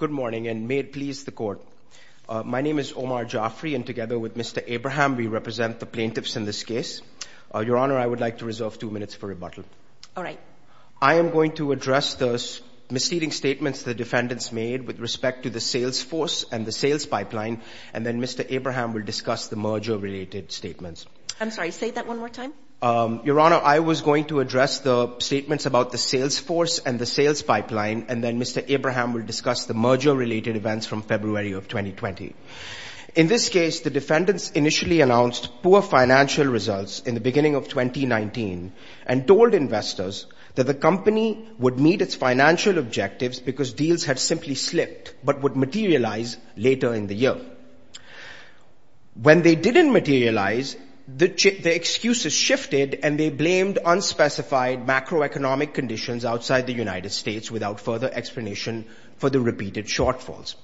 Good morning, and may it please the Court. My name is Omar Jafri, and together with Mr. Abraham, we represent the plaintiffs in this case. Your Honor, I would like to reserve two minutes for rebuttal. All right. I am going to address the misleading statements the defendants made with respect to the sales force and the sales pipeline, and then Mr. Abraham will discuss the merger-related statements. I'm sorry, say that one more time. Your Honor, I was going to address the statements about the sales force and the sales pipeline, and then Mr. Abraham will discuss the merger-related events from February of 2020. In this case, the defendants initially announced poor financial results in the beginning of 2019 and told investors that the company would meet its financial objectives because deals had simply slipped but would materialize later in the year. However, when they didn't materialize, the excuses shifted and they blamed unspecified macroeconomic conditions outside the United States without further explanation for the repeated shortfalls.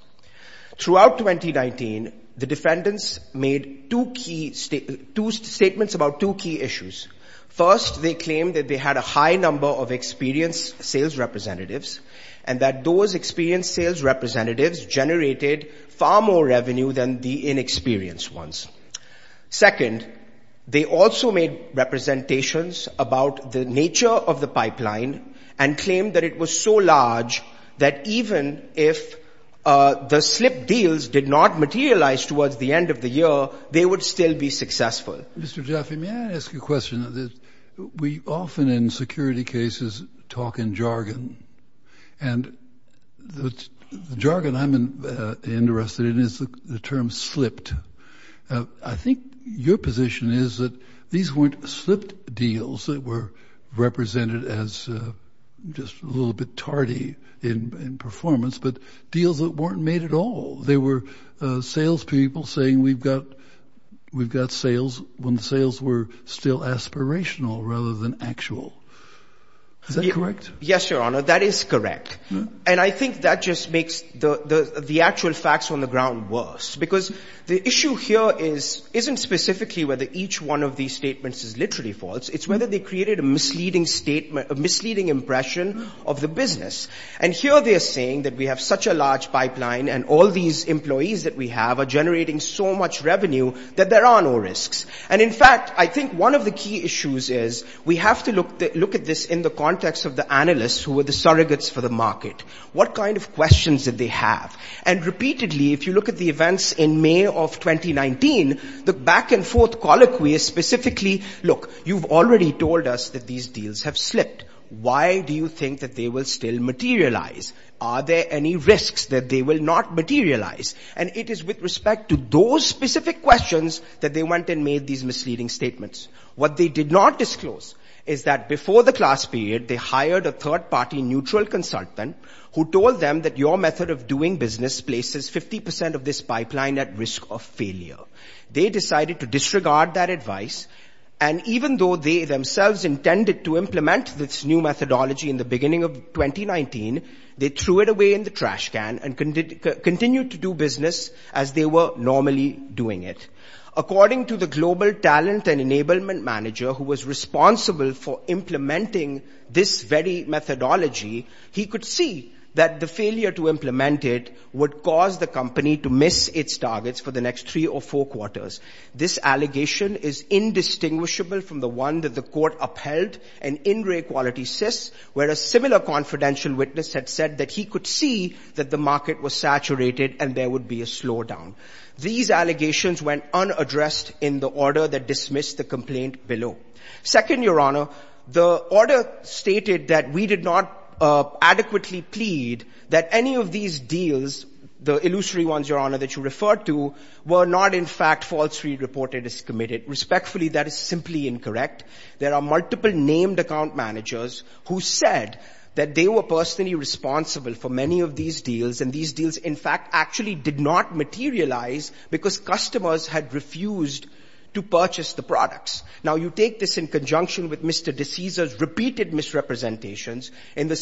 Throughout 2019, the defendants made two key statements about two key issues. First, they claimed that they had a high number of experienced sales representatives and that those experienced sales representatives generated far more revenue than the inexperienced ones. Second, they also made representations about the nature of the pipeline and claimed that it was so large that even if the slipped deals did not materialize towards the end of the year, they would still be successful. Mr. Jaffe, may I ask you a question? We often, in security cases, talk in jargon, and the jargon I'm interested in is the term slipped. I think your position is that these weren't slipped deals that were represented as just a little bit tardy in performance, but deals that weren't made at all. They were salespeople saying we've got sales when the sales were still aspirational rather than actual. Is that correct? Yes, Your Honor, that is correct. And I think that just makes the actual facts on the ground worse. Because the issue here isn't specifically whether each one of these statements is literally false, it's whether they created a misleading impression of the business. And here they are saying that we have such a large pipeline, and all these employees that we have are generating so much revenue that there are no risks. And in fact, I think one of the key issues is we have to look at this in the context of the analysts who were the surrogates for the market. What kind of questions did they have? And repeatedly, if you look at the events in May of 2019, the back and forth colloquy is specifically, look, you've already told us that these deals have slipped. Why do you think that they will still materialize? Are there any risks that they will not materialize? And it is with respect to those specific questions that they went and made these misleading statements. What they did not disclose is that before the class period, they hired a third party neutral consultant who told them that your method of doing business places 50 percent of this pipeline at risk of failure. They decided to disregard that advice. And even though they themselves intended to implement this new methodology in the beginning of 2019, they threw it away in the trash can and continued to do business as they were normally doing it. According to the global talent and enablement manager who was responsible for implementing this very methodology, he could see that the failure to implement it would cause the company to miss its targets for the next three or four quarters. This allegation is indistinguishable from the one that the court upheld, an in-rate quality sys, where a similar confidential witness had said that he could see that the market was saturated and there would be a slowdown. These allegations went unaddressed in the order that dismissed the complaint below. Second, your honor, the order stated that we did not adequately plead that any of these deals, the illusory ones, your honor, that you referred to, were not in fact falsely reported as committed. Respectfully, that is simply incorrect. There are multiple named account managers who said that they were personally responsible for many of these deals, and these deals, in fact, actually did not materialize because customers had refused to purchase the products. Now you take this in conjunction with Mr. De Siza's repeated misrepresentations in the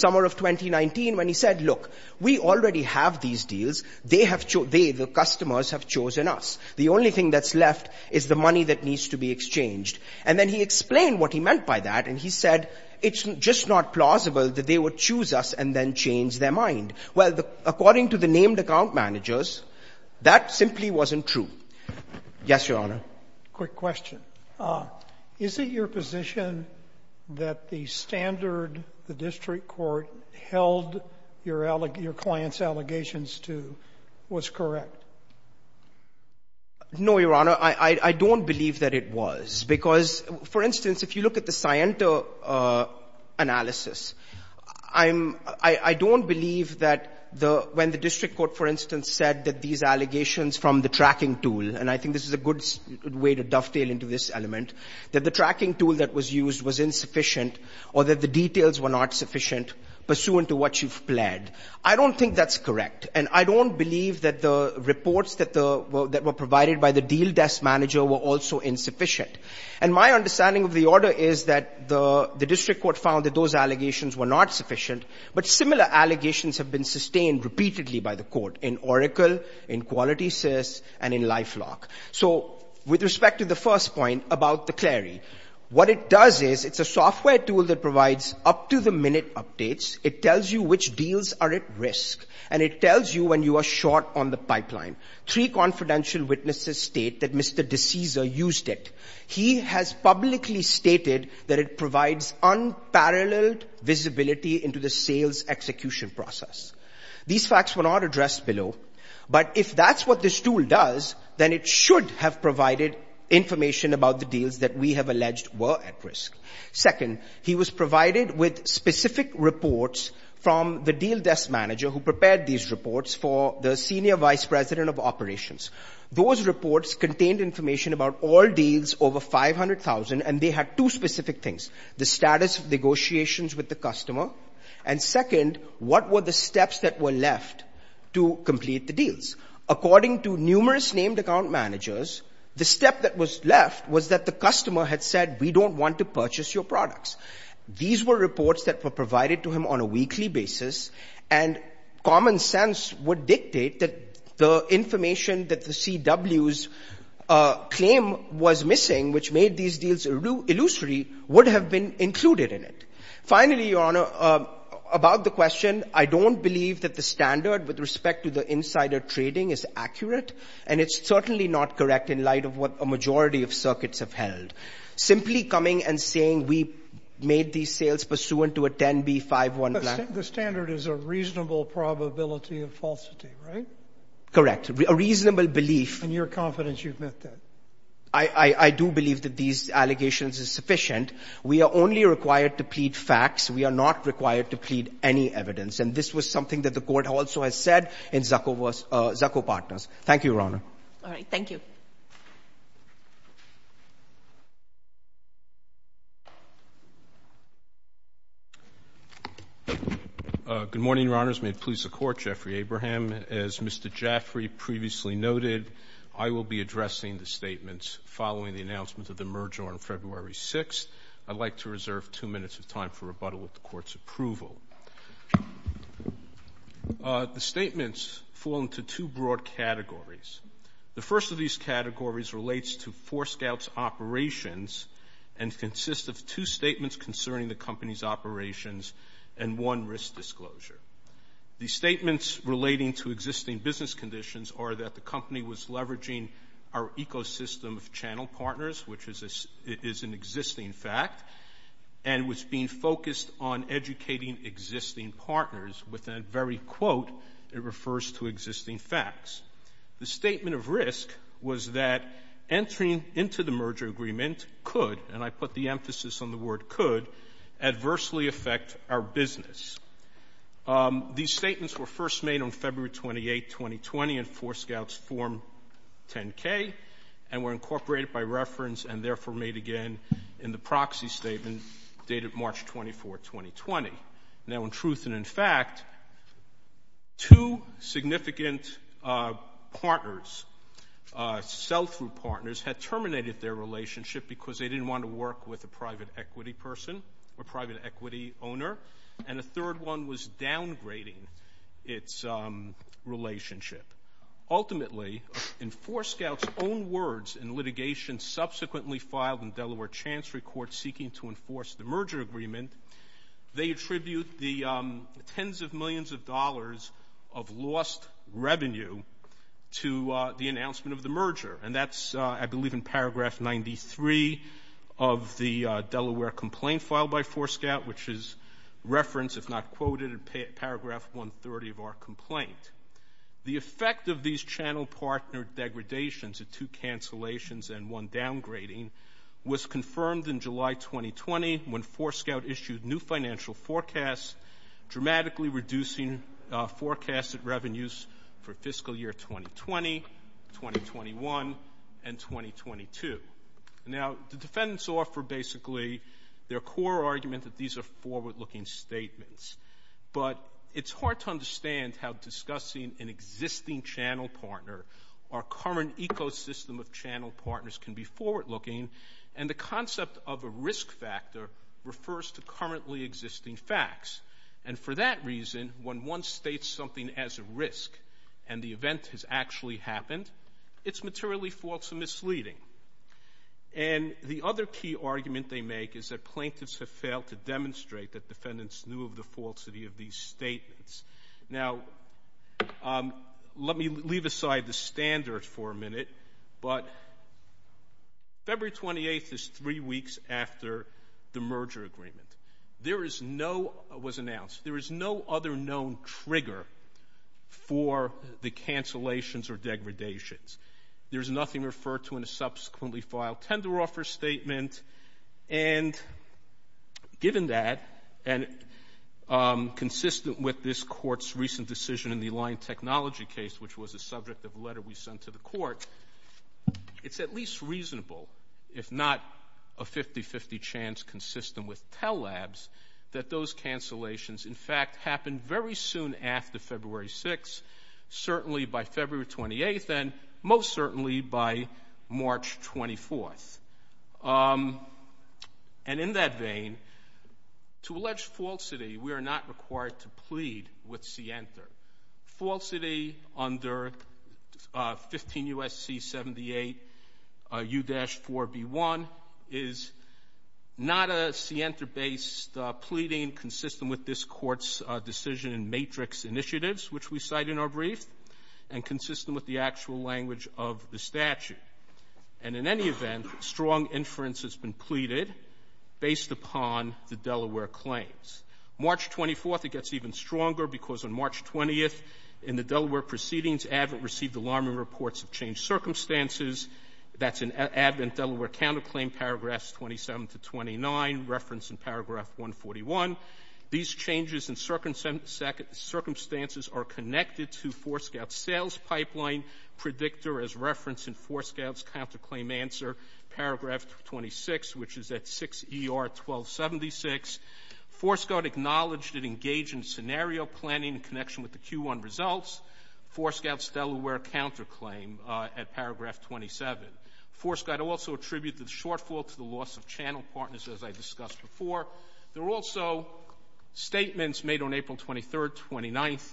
And then he explained what he meant by that, and he said, it's just not plausible that they would choose us and then change their mind. Well, according to the named account managers, that simply wasn't true. Yes, your honor. Sotomayor, is it your position that the standard, the district court, held your client's allegations to was correct? No, your honor. I don't believe that it was, because, for instance, if you look at the Sciento analysis, I don't believe that when the district court, for instance, said that these allegations from the tracking tool, and I think this is a good way to dovetail into this element, that the tracking tool that was used was insufficient or that the details were not sufficient pursuant to what you've pled. I don't think that's correct, and I don't believe that the reports that were provided by the deal desk manager were also insufficient. And my understanding of the order is that the district court found that those allegations were not sufficient, but similar allegations have been sustained repeatedly by the court in Oracle, in QualitySys, and in LifeLock. So with respect to the first point about the Clary, what it does is it's a software tool that provides up-to-the-minute updates. It tells you which deals are at risk, and it tells you when you are short on the pipeline. Three confidential witnesses state that Mr. DeCesar used it. He has publicly stated that it provides unparalleled visibility into the sales execution process. These facts were not addressed below, but if that's what this tool does, then it should have provided information about the deals that we have alleged were at risk. Second, he was provided with specific reports from the deal desk manager who prepared these reports for the senior vice president of operations. Those reports contained information about all deals over 500,000, and they had two specific things. The status of negotiations with the customer, and second, what were the steps that were left to complete the deals. According to numerous named account managers, the step that was left was that the customer had said, we don't want to purchase your products. These were reports that were provided to him on a weekly basis, and common sense would dictate that the information that the CW's claim was missing, which made these deals illusory, would have been included in it. Finally, Your Honor, about the question, I don't believe that the standard with respect to the insider trading is accurate, and it's certainly not correct in light of what a majority of circuits have held. Simply coming and saying we made these sales pursuant to a 10B51 plan. The standard is a reasonable probability of falsity, right? Correct. A reasonable belief. And you're confident you've met that? I do believe that these allegations are sufficient. We are only required to plead facts. We are not required to plead any evidence, and this was something that the court also has said in Zucco Partners. Thank you, Your Honor. All right. Thank you, Your Honor. Good morning, Your Honors. May it please the Court. Jeffrey Abraham. As Mr. Jaffrey previously noted, I will be addressing the statements following the announcement of the merger on February 6th. I'd like to reserve two minutes of time for rebuttal with the Court's approval. The statements fall into two broad categories. The first of these categories relates to Forescout's operations and consists of two statements concerning the company's operations and one risk disclosure. The statements relating to existing business conditions are that the company was leveraging our ecosystem of channel partners, which is an existing fact, and was being focused on educating existing partners with a very quote that refers to existing facts. The statement of risk was that entering into the merger agreement could, and I put the emphasis on the word could, adversely affect our business. These statements were first made on February 28, 2020, in Forescout's Form 10-K and were incorporated by reference and therefore made again in the proxy statement dated March 24, 2020. Now, in truth and in fact, two significant partners, sell-through partners, had terminated their relationship because they didn't want to work with a private equity person or private equity owner, and a third one was downgrading its relationship. Ultimately, in Forescout's own words in litigation subsequently filed in Delaware Chancery Court seeking to enforce the merger agreement, they attribute the tens of millions of dollars of lost revenue to the announcement of the merger, and that's, I believe, in paragraph 93 of the Delaware complaint filed by Forescout, which is referenced, if not quoted, in paragraph 130 of our complaint. The effect of these channel partner degradations, the two cancellations and one downgrading, was confirmed in July, 2020, when Forescout issued new financial forecasts, dramatically reducing forecasted revenues for fiscal year 2020, 2021, and 2022. Now, the defendants offer basically their core argument that these are forward-looking statements, but it's hard to understand how discussing an existing channel partner, our current ecosystem of channel partners can be forward-looking, and the concept of a risk factor refers to currently existing facts, and for that reason, when one states something as a risk, and the event has actually happened, it's materially false and misleading. And the other key argument they make is that plaintiffs have failed to demonstrate that defendants knew of the falsity of these statements. Now, let me leave aside the standards for a minute, but February 28th is three weeks after the merger agreement. There is no, it was announced, there is no other known trigger for the cancellations or degradations. There's nothing referred to in a subsequently filed tender offer statement, and given that, and consistent with this court's recent decision in the line technology case, which was the subject of a letter we sent to the court, it's at least reasonable, if not a 50-50 chance consistent with Tellab's, that those cancellations, in fact, happened very soon after February 6th, certainly by February 28th, and most certainly by March 24th. And in that vein, to allege falsity, we are not required to plead with Sienta. Falsity under 15 U.S.C. 78 U-4B1 is not a Sienta-based pleading consistent with this court's decision in matrix initiatives, which we cite in our brief, and consistent with the actual language of the statute. And in any event, strong inference has been pleaded based upon the Delaware claims. March 24th, it gets even stronger, because on March 20th, in the Delaware proceedings, ADVENT received alarming reports of changed circumstances. That's an ADVENT Delaware counterclaim, paragraphs 27 to 29, referenced in paragraph 141. These changes in circumstances are connected to Forescout's sales pipeline predictor as well as Forescout's counterclaim answer, paragraph 26, which is at 6 ER 1276. Forescout acknowledged it engaged in scenario planning in connection with the Q1 results. Forescout's Delaware counterclaim at paragraph 27. Forescout also attributed the shortfall to the loss of channel partners, as I discussed before. There were also statements made on April 23rd, 29th,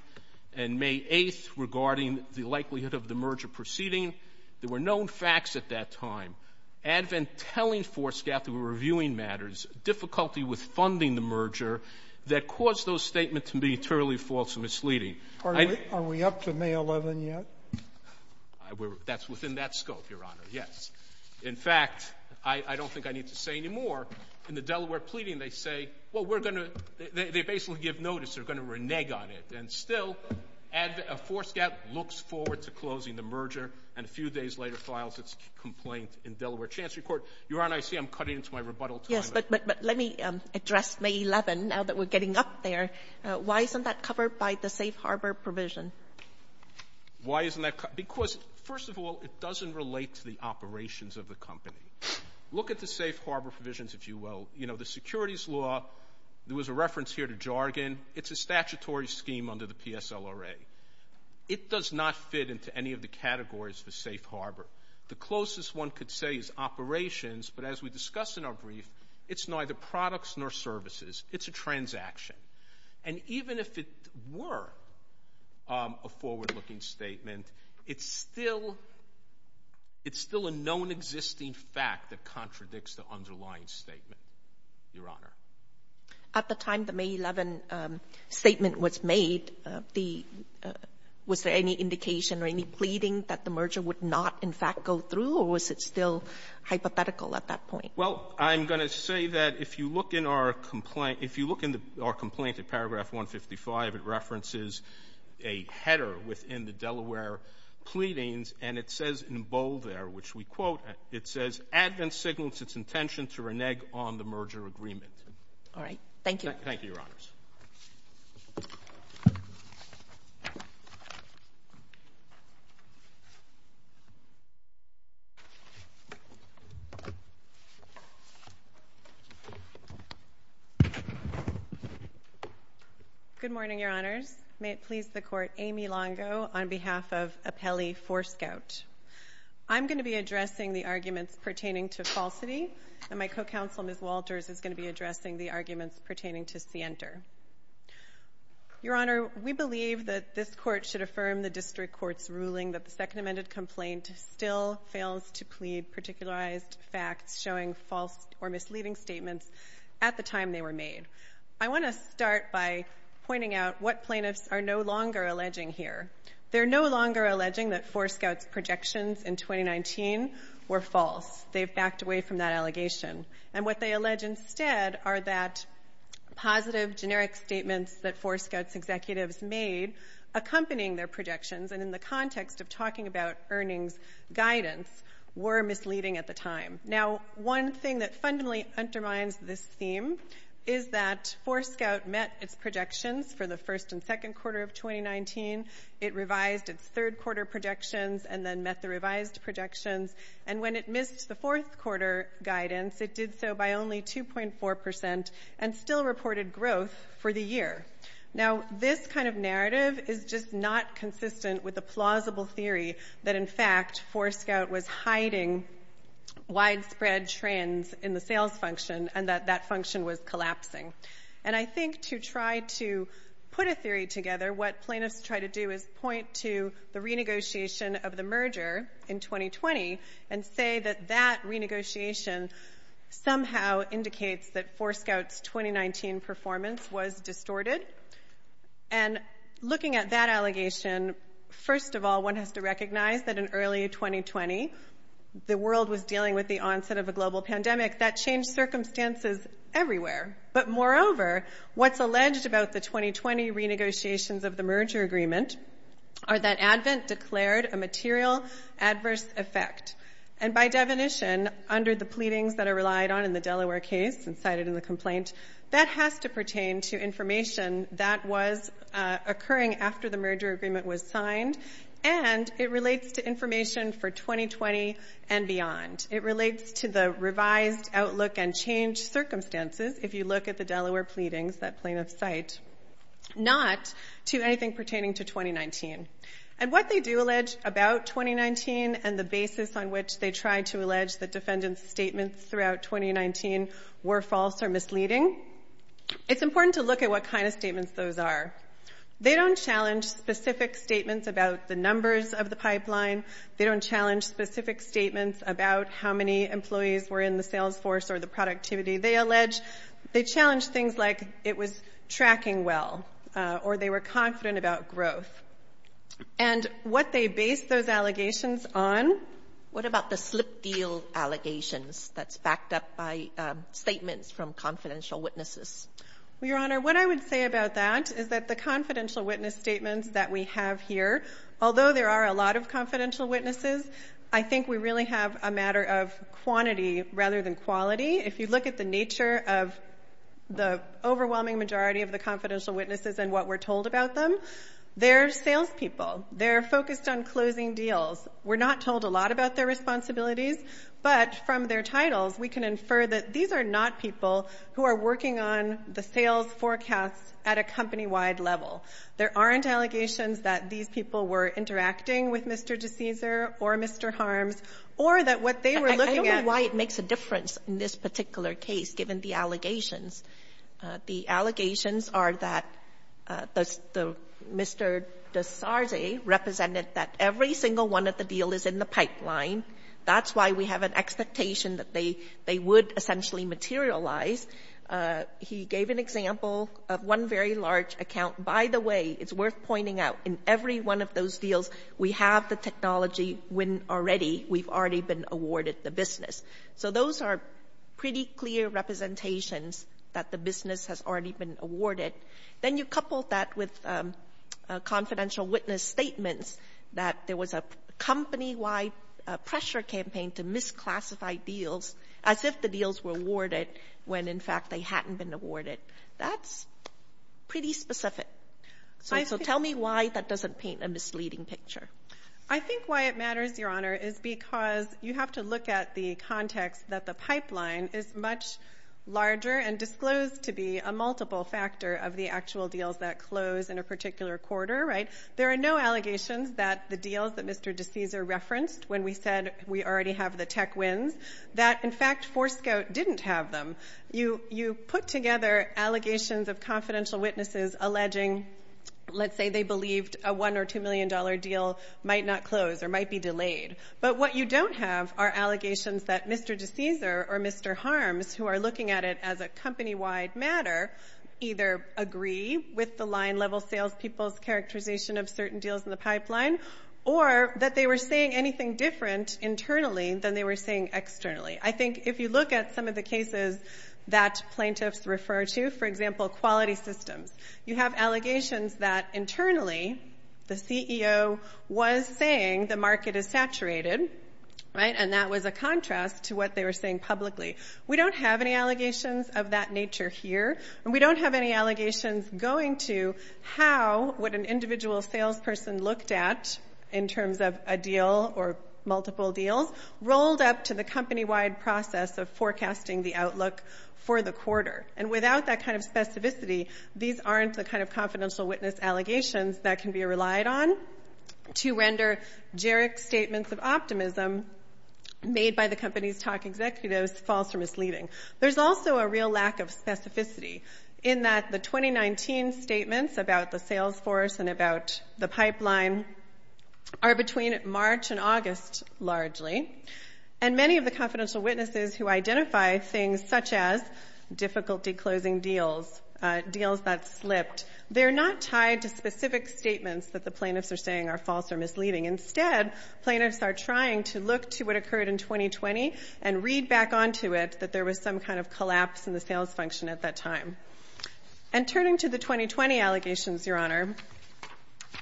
and May 8th regarding the likelihood of the merger proceeding. There were known facts at that time. ADVENT telling Forescout they were reviewing matters, difficulty with funding the merger, that caused those statements to be entirely false and misleading. Are we up to May 11th yet? That's within that scope, Your Honor, yes. In fact, I don't think I need to say any more. In the Delaware pleading, they say, well, we're going to, they basically give notice, they're going to renege on it. And still, Forescout looks forward to closing the merger and a few days later files its complaint in Delaware Chancery Court. Your Honor, I see I'm cutting into my rebuttal time. Yes, but let me address May 11th, now that we're getting up there. Why isn't that covered by the safe harbor provision? Why isn't that covered? Because first of all, it doesn't relate to the operations of the company. Look at the safe harbor provisions, if you will. You know, the securities law, there was a reference here to jargon. And it's a statutory scheme under the PSLRA. It does not fit into any of the categories for safe harbor. The closest one could say is operations, but as we discussed in our brief, it's neither products nor services. It's a transaction. And even if it were a forward-looking statement, it's still, it's still a known existing fact that contradicts the underlying statement, Your Honor. At the time the May 11 statement was made, the, was there any indication or any pleading that the merger would not, in fact, go through, or was it still hypothetical at that point? Well, I'm going to say that if you look in our complaint, if you look in our complaint at paragraph 155, it references a header within the Delaware pleadings, and it says in bold there, which we quote, it says, Admin signals its intention to renege on the merger agreement. All right. Thank you, Your Honors. Good morning, Your Honors. May it please the Court, Amy Longo on behalf of Apelli Forescout. I'm going to be addressing the arguments pertaining to falsity, and my co-counsel, Ms. Walters, is going to be addressing the arguments pertaining to scienter. Your Honor, we believe that this Court should affirm the District Court's ruling that the Second Amended Complaint still fails to plead particularized facts showing false or misleading statements at the time they were made. I want to start by pointing out what plaintiffs are no longer alleging here. They're no longer alleging that Forescout's projections in 2019 were false. They've backed away from that allegation, and what they allege instead are that positive generic statements that Forescout's executives made accompanying their projections and in the context of talking about earnings guidance were misleading at the time. Now, one thing that fundamentally undermines this theme is that Forescout met its projections for the first and second quarter of 2019. It revised its third quarter projections and then met the revised projections, and when it missed the fourth quarter guidance, it did so by only 2.4% and still reported growth for the year. Now, this kind of narrative is just not consistent with the plausible theory that, in fact, Forescout was hiding widespread trends in the sales function and that that function was collapsing. And I think to try to put a theory together, what plaintiffs try to do is point to the renegotiation of the merger in 2020 and say that that renegotiation somehow indicates that Forescout's 2019 performance was distorted. And looking at that allegation, first of all, one has to recognize that in early 2020, the world was dealing with the onset of a global pandemic. That changed circumstances everywhere. But moreover, what's alleged about the 2020 renegotiations of the merger agreement are that ADVENT declared a material adverse effect. And by definition, under the pleadings that are relied on in the Delaware case and cited in the complaint, that has to pertain to information that was occurring after the merger agreement was signed, and it relates to information for 2020 and beyond. It relates to the revised outlook and change circumstances, if you look at the Delaware pleadings that plaintiffs cite, not to anything pertaining to 2019. And what they do allege about 2019 and the basis on which they try to allege that defendants' statements throughout 2019 were false or misleading, it's important to look at what kind of statements those are. They don't challenge specific statements about the numbers of the pipeline. They don't challenge specific statements about how many employees were in the sales force or the productivity they allege. They challenge things like it was tracking well, or they were confident about growth. And what they base those allegations on... What about the slip deal allegations that's backed up by statements from confidential witnesses? Well, Your Honor, what I would say about that is that the confidential witness statements that we have here, although there are a lot of confidential witnesses, I think we really have a matter of quantity rather than quality. If you look at the nature of the overwhelming majority of the confidential witnesses and what we're told about them, they're salespeople. They're focused on closing deals. We're not told a lot about their responsibilities, but from their titles, we can infer that these are not people who are working on the sales forecasts at a company-wide level. There aren't allegations that these people were interacting with Mr. DeCesar or Mr. Harms or that what they were looking at... I don't know why it makes a difference in this particular case, given the allegations. The allegations are that Mr. DeSarze represented that every single one of the deal is in the pipeline. That's why we have an expectation that they would essentially materialize. He gave an example of one very large account. By the way, it's worth pointing out, in every one of those deals, we have the technology when already we've already been awarded the business. So those are pretty clear representations that the business has already been awarded. Then you couple that with confidential witness statements that there was a company-wide pressure campaign to misclassify deals, as if the deals were awarded when in fact they hadn't been awarded. That's pretty specific. Tell me why that doesn't paint a misleading picture. I think why it matters, Your Honor, is because you have to look at the context that the pipeline is much larger and disclosed to be a multiple factor of the actual deals that close in a particular quarter. There are no allegations that the deals that Mr. DeSarze referenced, when we said we already have the tech wins, that in fact Forescout didn't have them. You put together allegations of confidential witnesses alleging, let's say they believed a $1 or $2 million deal might not close or might be delayed. But what you don't have are allegations that Mr. DeSarze or Mr. Harms, who are looking at it as a company-wide matter, either agree with the line-level salespeople's characterization of certain deals in the pipeline, or that they were saying anything different internally than they were saying externally. I think if you look at some of the cases that plaintiffs refer to, for example quality systems, you have allegations that internally the CEO was saying the market is saturated, and that was a contrast to what they were saying publicly. We don't have any allegations of that nature here, and we don't have any allegations going to how what an individual salesperson looked at in terms of a deal or multiple deals rolled up to the company-wide process of forecasting the outlook for the quarter. And without that kind of specificity, these aren't the kind of confidential witness allegations that can be relied on to render Jarek's statements of optimism made by the company's top executives false or misleading. There's also a real lack of specificity in that the 2019 statements about the sales force and about the pipeline are between March and August largely, and many of the confidential witnesses who identify things such as difficulty closing deals, deals that slipped, they're not tied to specific statements that the plaintiffs are saying are false or misleading. Instead, plaintiffs are trying to look to what occurred in 2020 and read back onto it that there was some kind of collapse in the sales function at that time. And turning to the 2020 allegations, Your Honor,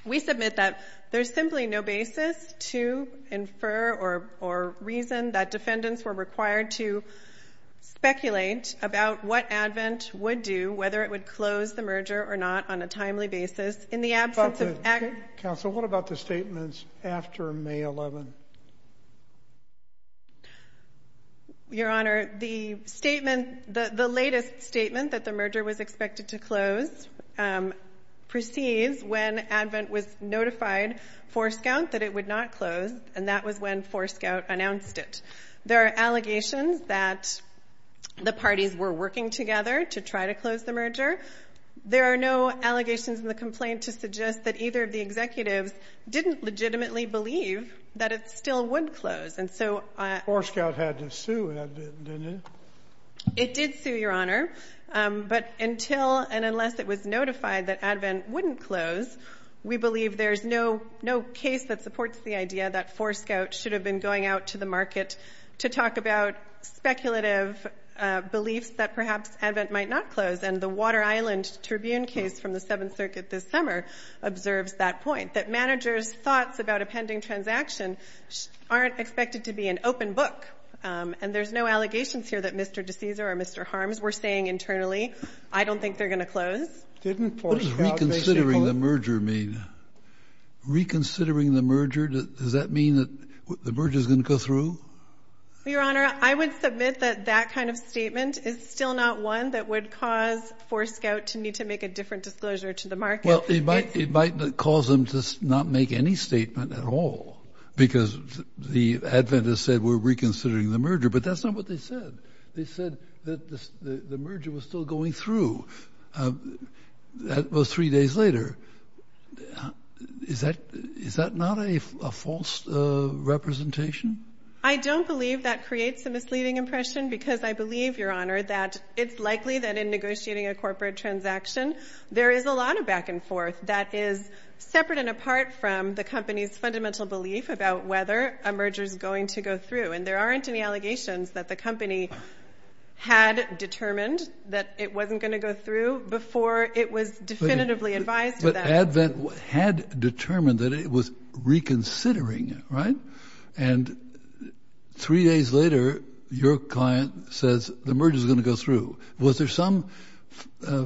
we submit that there's simply no basis to infer or reason that defendants were required to speculate about what ADVENT would do, whether it would close the merger or not on a timely basis in the absence of- Counsel, what about the statements after May 11? Your Honor, the statement, the latest statement that the merger was expected to close proceeds when ADVENT was notified for Scout that it would not close, and that was when for Scout announced it. There are allegations that the parties were working together to try to close the merger. There are no allegations in the complaint to suggest that either of the executives didn't legitimately believe that it still would close. And so- For Scout had to sue, didn't it? It did sue, Your Honor, but until and unless it was notified that ADVENT wouldn't close, we believe there's no case that supports the idea that for Scout should have been going out to the market to talk about speculative beliefs that perhaps ADVENT might not close. And the Water Island Tribune case from the Seventh Circuit this summer observes that point, that managers' thoughts about a pending transaction aren't expected to be an open book. And there's no allegations here that Mr. DeCesar or Mr. Harms were saying internally, I don't think they're going to close. Didn't for Scout- What does reconsidering the merger mean? Reconsidering the merger, does that mean that the merger's going to go through? Your Honor, I would submit that that kind of statement is still not one that would cause for Scout to need to make a different disclosure to the market. Well, it might cause them to not make any statement at all because ADVENT has said we're reconsidering the merger, but that's not what they said. They said that the merger was still going through. That was three days later. Is that not a false representation? I don't believe that creates a misleading impression because I believe, Your Honor, that it's likely that in negotiating a corporate transaction, there is a lot of back and forth that is separate and apart from the company's fundamental belief about whether a merger's going to go through. And there aren't any allegations that the company had determined that it wasn't going to go through before it was definitively advised of that. But ADVENT had determined that it was reconsidering, right? And three days later, your client says the merger's going to go through. Was there some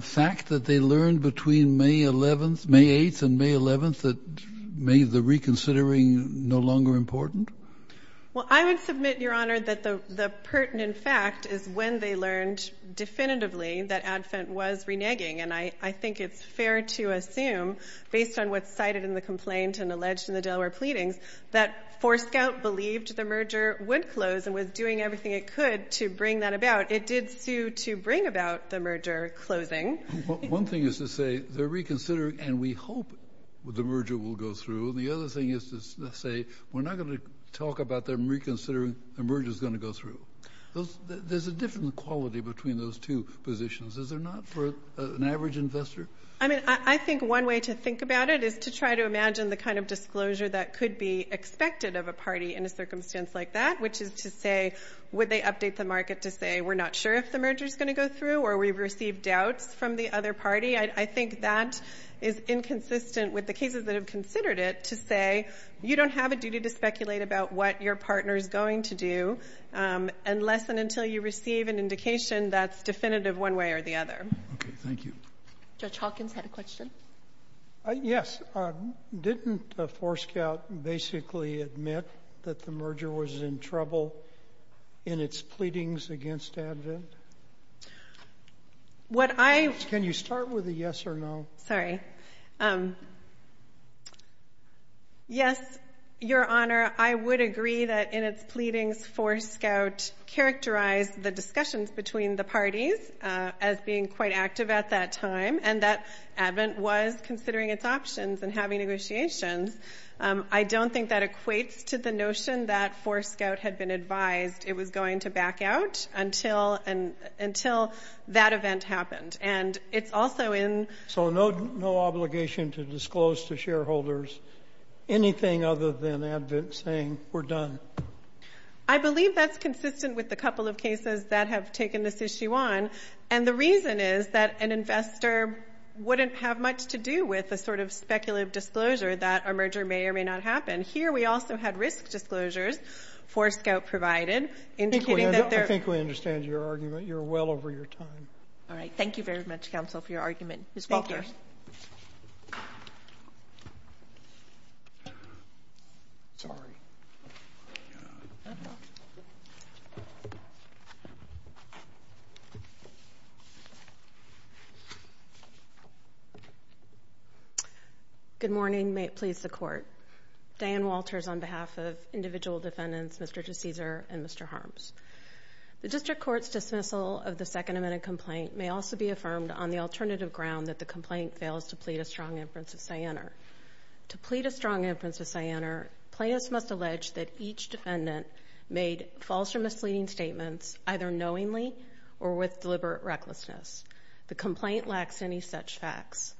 fact that they learned between May 8th and May 11th that made the reconsidering no longer important? Well, I would submit, Your Honor, that the pertinent fact is when they learned definitively that ADVENT was reneging. And I think it's fair to assume, based on what's cited in the complaint and alleged in the Delaware pleadings, that Forescout believed the merger would close and was doing everything it could to bring that about. It did sue to bring about the merger closing. One thing is to say, they're reconsidering and we hope the merger will go through. The other thing is to say, we're not going to talk about them reconsidering, the merger's going to go through. There's a different quality between those two positions. Is there not for an average investor? I mean, I think one way to think about it is to try to imagine the kind of disclosure that could be expected of a party in a circumstance like that, which is to say, would they update the market to say, we're not sure if the merger's going to go through or we've received doubts from the other party? I think that is inconsistent with the cases that have considered it to say, you don't have a duty to speculate about what your partner is going to do unless and until you receive an indication that's definitive one way or the other. Okay, thank you. Judge Hawkins had a question. Yes. Didn't Forescout basically admit that the merger was in trouble in its pleadings against ADVENT? What I... Can you start with a yes or no? Sorry. Yes, Your Honor, I would agree that in its pleadings, Forescout characterized the discussions between the parties as being quite active at that time and that ADVENT was considering its options and having negotiations. I don't think that equates to the notion that Forescout had been advised it was going to back out until that event happened. And it's also in... So no obligation to disclose to shareholders anything other than ADVENT saying, we're done? I believe that's consistent with a couple of cases that have taken this issue on. And the reason is that an investor wouldn't have much to do with a sort of speculative disclosure that a merger may or may not happen. Here we also had risk disclosures Forescout provided, indicating that there... I think we understand your argument. You're well over your time. All right. Thank you very much, counsel, for your argument. Ms. Walters. Thank you. Sorry. Good morning, may it please the court. Diane Walters on behalf of individual defendants, Mr. DeCesar and Mr. Harms. The district court's dismissal of the Second Amendment complaint may also be affirmed on the alternative ground that the complaint fails to plead a strong inference of cyanide. To plead a strong inference of cyanide, plaintiffs must allege that each defendant made false or misleading statements either knowingly or with deliberate recklessness. The complaint lacks any such facts.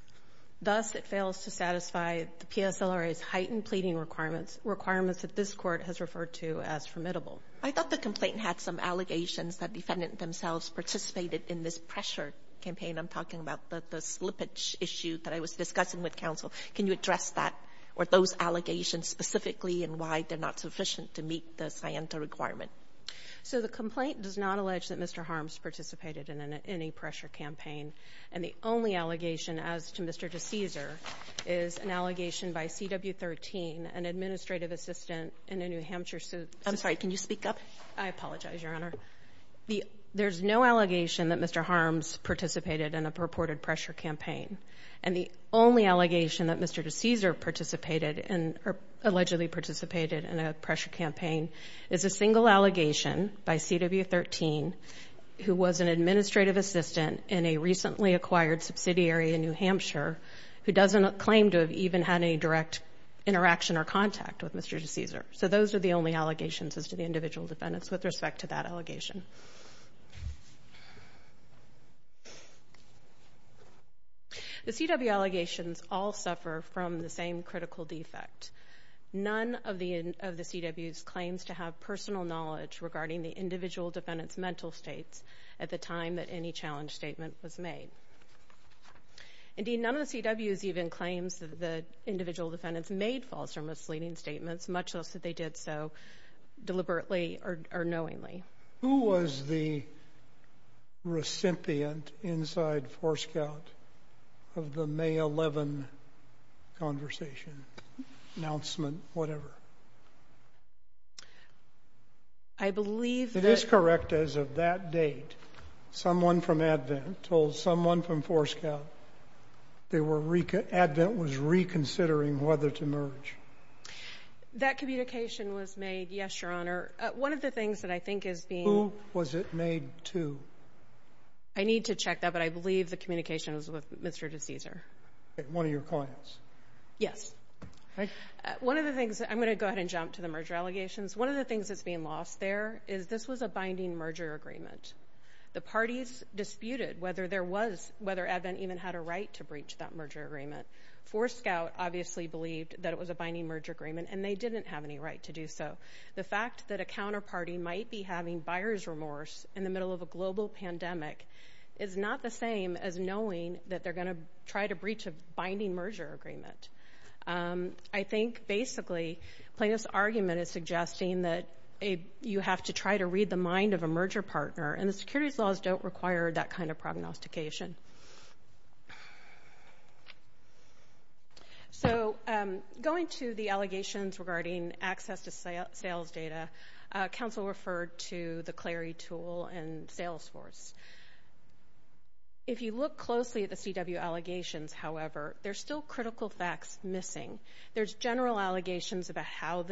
Thus, it fails to satisfy the PSLRA's heightened pleading requirements, requirements that this court has referred to as formidable. I thought the complaint had some allegations that defendant themselves participated in this pressure campaign. I'm talking about the slippage issue that I was discussing with counsel. Can you address that or those allegations specifically and why they're not sufficient to meet the cyanide requirement? So the complaint does not allege that Mr. Harms participated in any pressure campaign. And the only allegation as to Mr. DeCesar is an allegation by CW13, an administrative assistant in a New Hampshire... I'm sorry. Can you speak up? I apologize, Your Honor. There's no allegation that Mr. Harms participated in a purported pressure campaign. And the only allegation that Mr. DeCesar participated in or allegedly participated in a pressure campaign is a single allegation by CW13 who was an administrative assistant in a recently acquired subsidiary in New Hampshire who doesn't claim to have even had any direct interaction or contact with Mr. DeCesar. So those are the only allegations as to the individual defendants with respect to that allegation. The CW allegations all suffer from the same critical defect. None of the CWs claims to have personal knowledge regarding the individual defendants' mental states at the time that any challenge statement was made. Indeed, none of the CWs even claims that the individual defendants made false or misleading statements, much less that they did so deliberately or knowingly. Who was the recipient inside Forescout of the May 11th conversation, announcement, whatever? I believe that... It is correct as of that date, someone from ADVENT told someone from Forescout that ADVENT was reconsidering whether to merge. That communication was made, yes, Your Honor. One of the things that I think is being... Who was it made to? I need to check that, but I believe the communication was with Mr. DeCesar. One of your clients? Yes. One of the things... I'm going to go ahead and jump to the merger allegations. One of the things that's being lost there is this was a binding merger agreement. The parties disputed whether there was... whether ADVENT even had a right to breach that merger agreement. Forescout obviously believed that it was a binding merger agreement, and they didn't have any right to do so. The fact that a counterparty might be having buyer's remorse in the middle of a global pandemic is not the same as knowing that they're going to try to breach a binding merger agreement. I think basically plaintiff's argument is suggesting that you have to try to read the So, going to the allegations regarding access to sales data, counsel referred to the Clery tool and Salesforce. If you look closely at the CW allegations, however, there's still critical facts missing. There's general allegations about how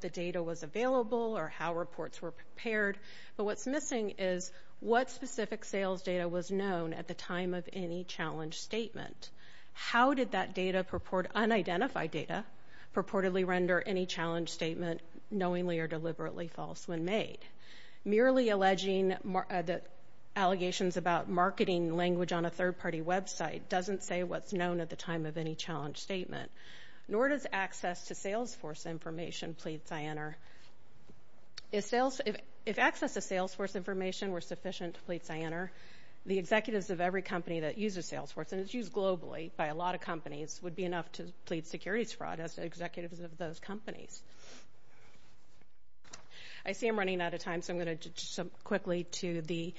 the data was available or how reports were prepared, but what's missing is what specific sales data was known at the time of any challenge statement. How did that data purport unidentified data purportedly render any challenge statement knowingly or deliberately false when made? Merely alleging the allegations about marketing language on a third-party website doesn't say what's known at the time of any challenge statement, nor does access to Salesforce information plead Sienner. If access to Salesforce information were sufficient to plead Sienner, the executives of every company that uses Salesforce, and it's used globally by a lot of companies, would be enough to plead securities fraud as the executives of those companies. I see I'm running out of time, so I'm going to jump quickly to the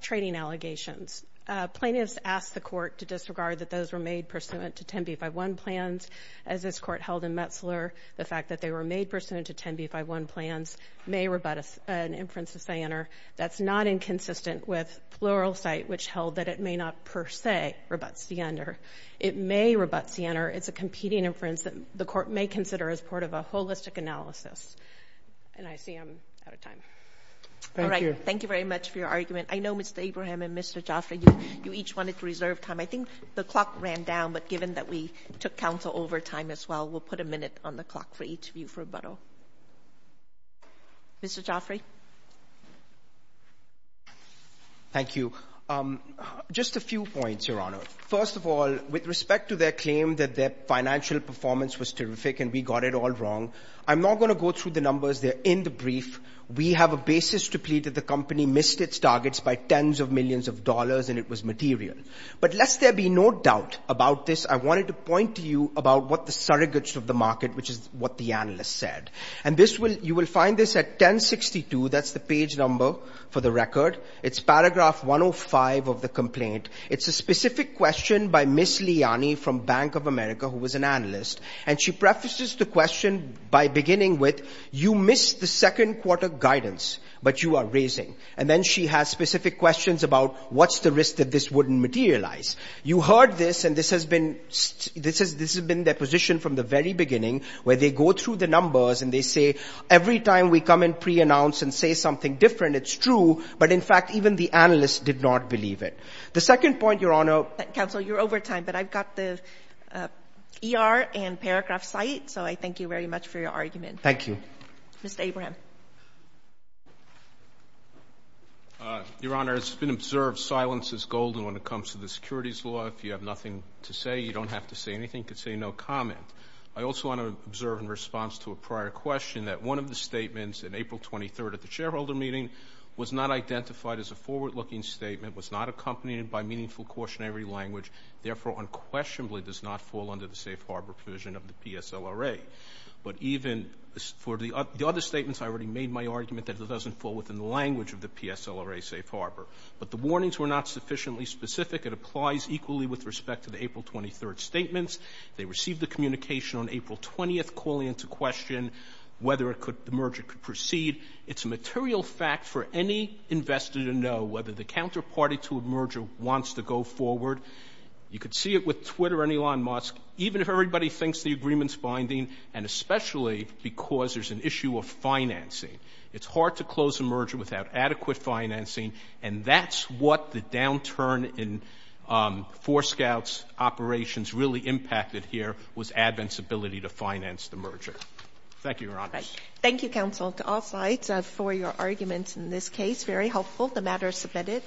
trading allegations. Plaintiffs asked the court to disregard that those were made pursuant to 10b51 plans as this court held in Metzler. The fact that they were made pursuant to 10b51 plans may rebut an inference of Sienner. That's not inconsistent with Pluralsight, which held that it may not per se rebut Sienner. It may rebut Sienner. It's a competing inference that the court may consider as part of a holistic analysis. And I see I'm out of time. Thank you. All right. Thank you very much for your argument. I know Mr. Abraham and Mr. Jaffray, you each wanted to reserve time. I think the clock ran down, but given that we took counsel over time as well, we'll put a minute on the clock for each of you for rebuttal. Mr. Jaffray? Thank you. Just a few points, Your Honor. First of all, with respect to their claim that their financial performance was terrific and we got it all wrong, I'm not going to go through the numbers. They're in the brief. We have a basis to plead that the company missed its targets by tens of millions of dollars and it was material. But lest there be no doubt about this, I wanted to point to you about what the surrogates of the market, which is what the analysts said. And you will find this at 1062. That's the page number for the record. It's paragraph 105 of the complaint. It's a specific question by Ms. Liani from Bank of America, who was an analyst. And she prefaces the question by beginning with, you missed the second quarter guidance, but you are raising. And then she has specific questions about what's the risk that this wouldn't materialize. You heard this, and this has been their position from the very beginning, where they go through the numbers and they say, every time we come in pre-announce and say something different, it's true. But in fact, even the analysts did not believe it. The second point, Your Honor. Counsel, you're over time, but I've got the ER and paragraph site. So I thank you very much for your argument. Thank you. Mr. Abraham. Your Honor, it's been observed silence is golden when it comes to the securities law. If you have nothing to say, you don't have to say anything. You can say no comment. I also want to observe in response to a prior question that one of the statements in April 23rd at the shareholder meeting was not identified as a forward-looking statement, was not accompanied by meaningful cautionary language, therefore unquestionably does not fall under the safe harbor provision of the PSLRA. But even for the other statements, I already made my argument that it doesn't fall within the language of the PSLRA safe harbor. But the warnings were not sufficiently specific. It applies equally with respect to the April 23rd statements. They received the communication on April 20th calling into question whether the merger could proceed. It's a material fact for any investor to know whether the counterparty to a merger wants to go forward. You could see it with Twitter and Elon Musk. Even if everybody thinks the agreement's binding, and especially because there's an issue of financing, it's hard to close a merger without adequate financing, and that's what the downturn in Forescout's operations really impacted here was Advent's ability to finance the merger. Thank you, Your Honor. Thank you, counsel, to all sides for your arguments in this case. Very helpful. The matter is submitted.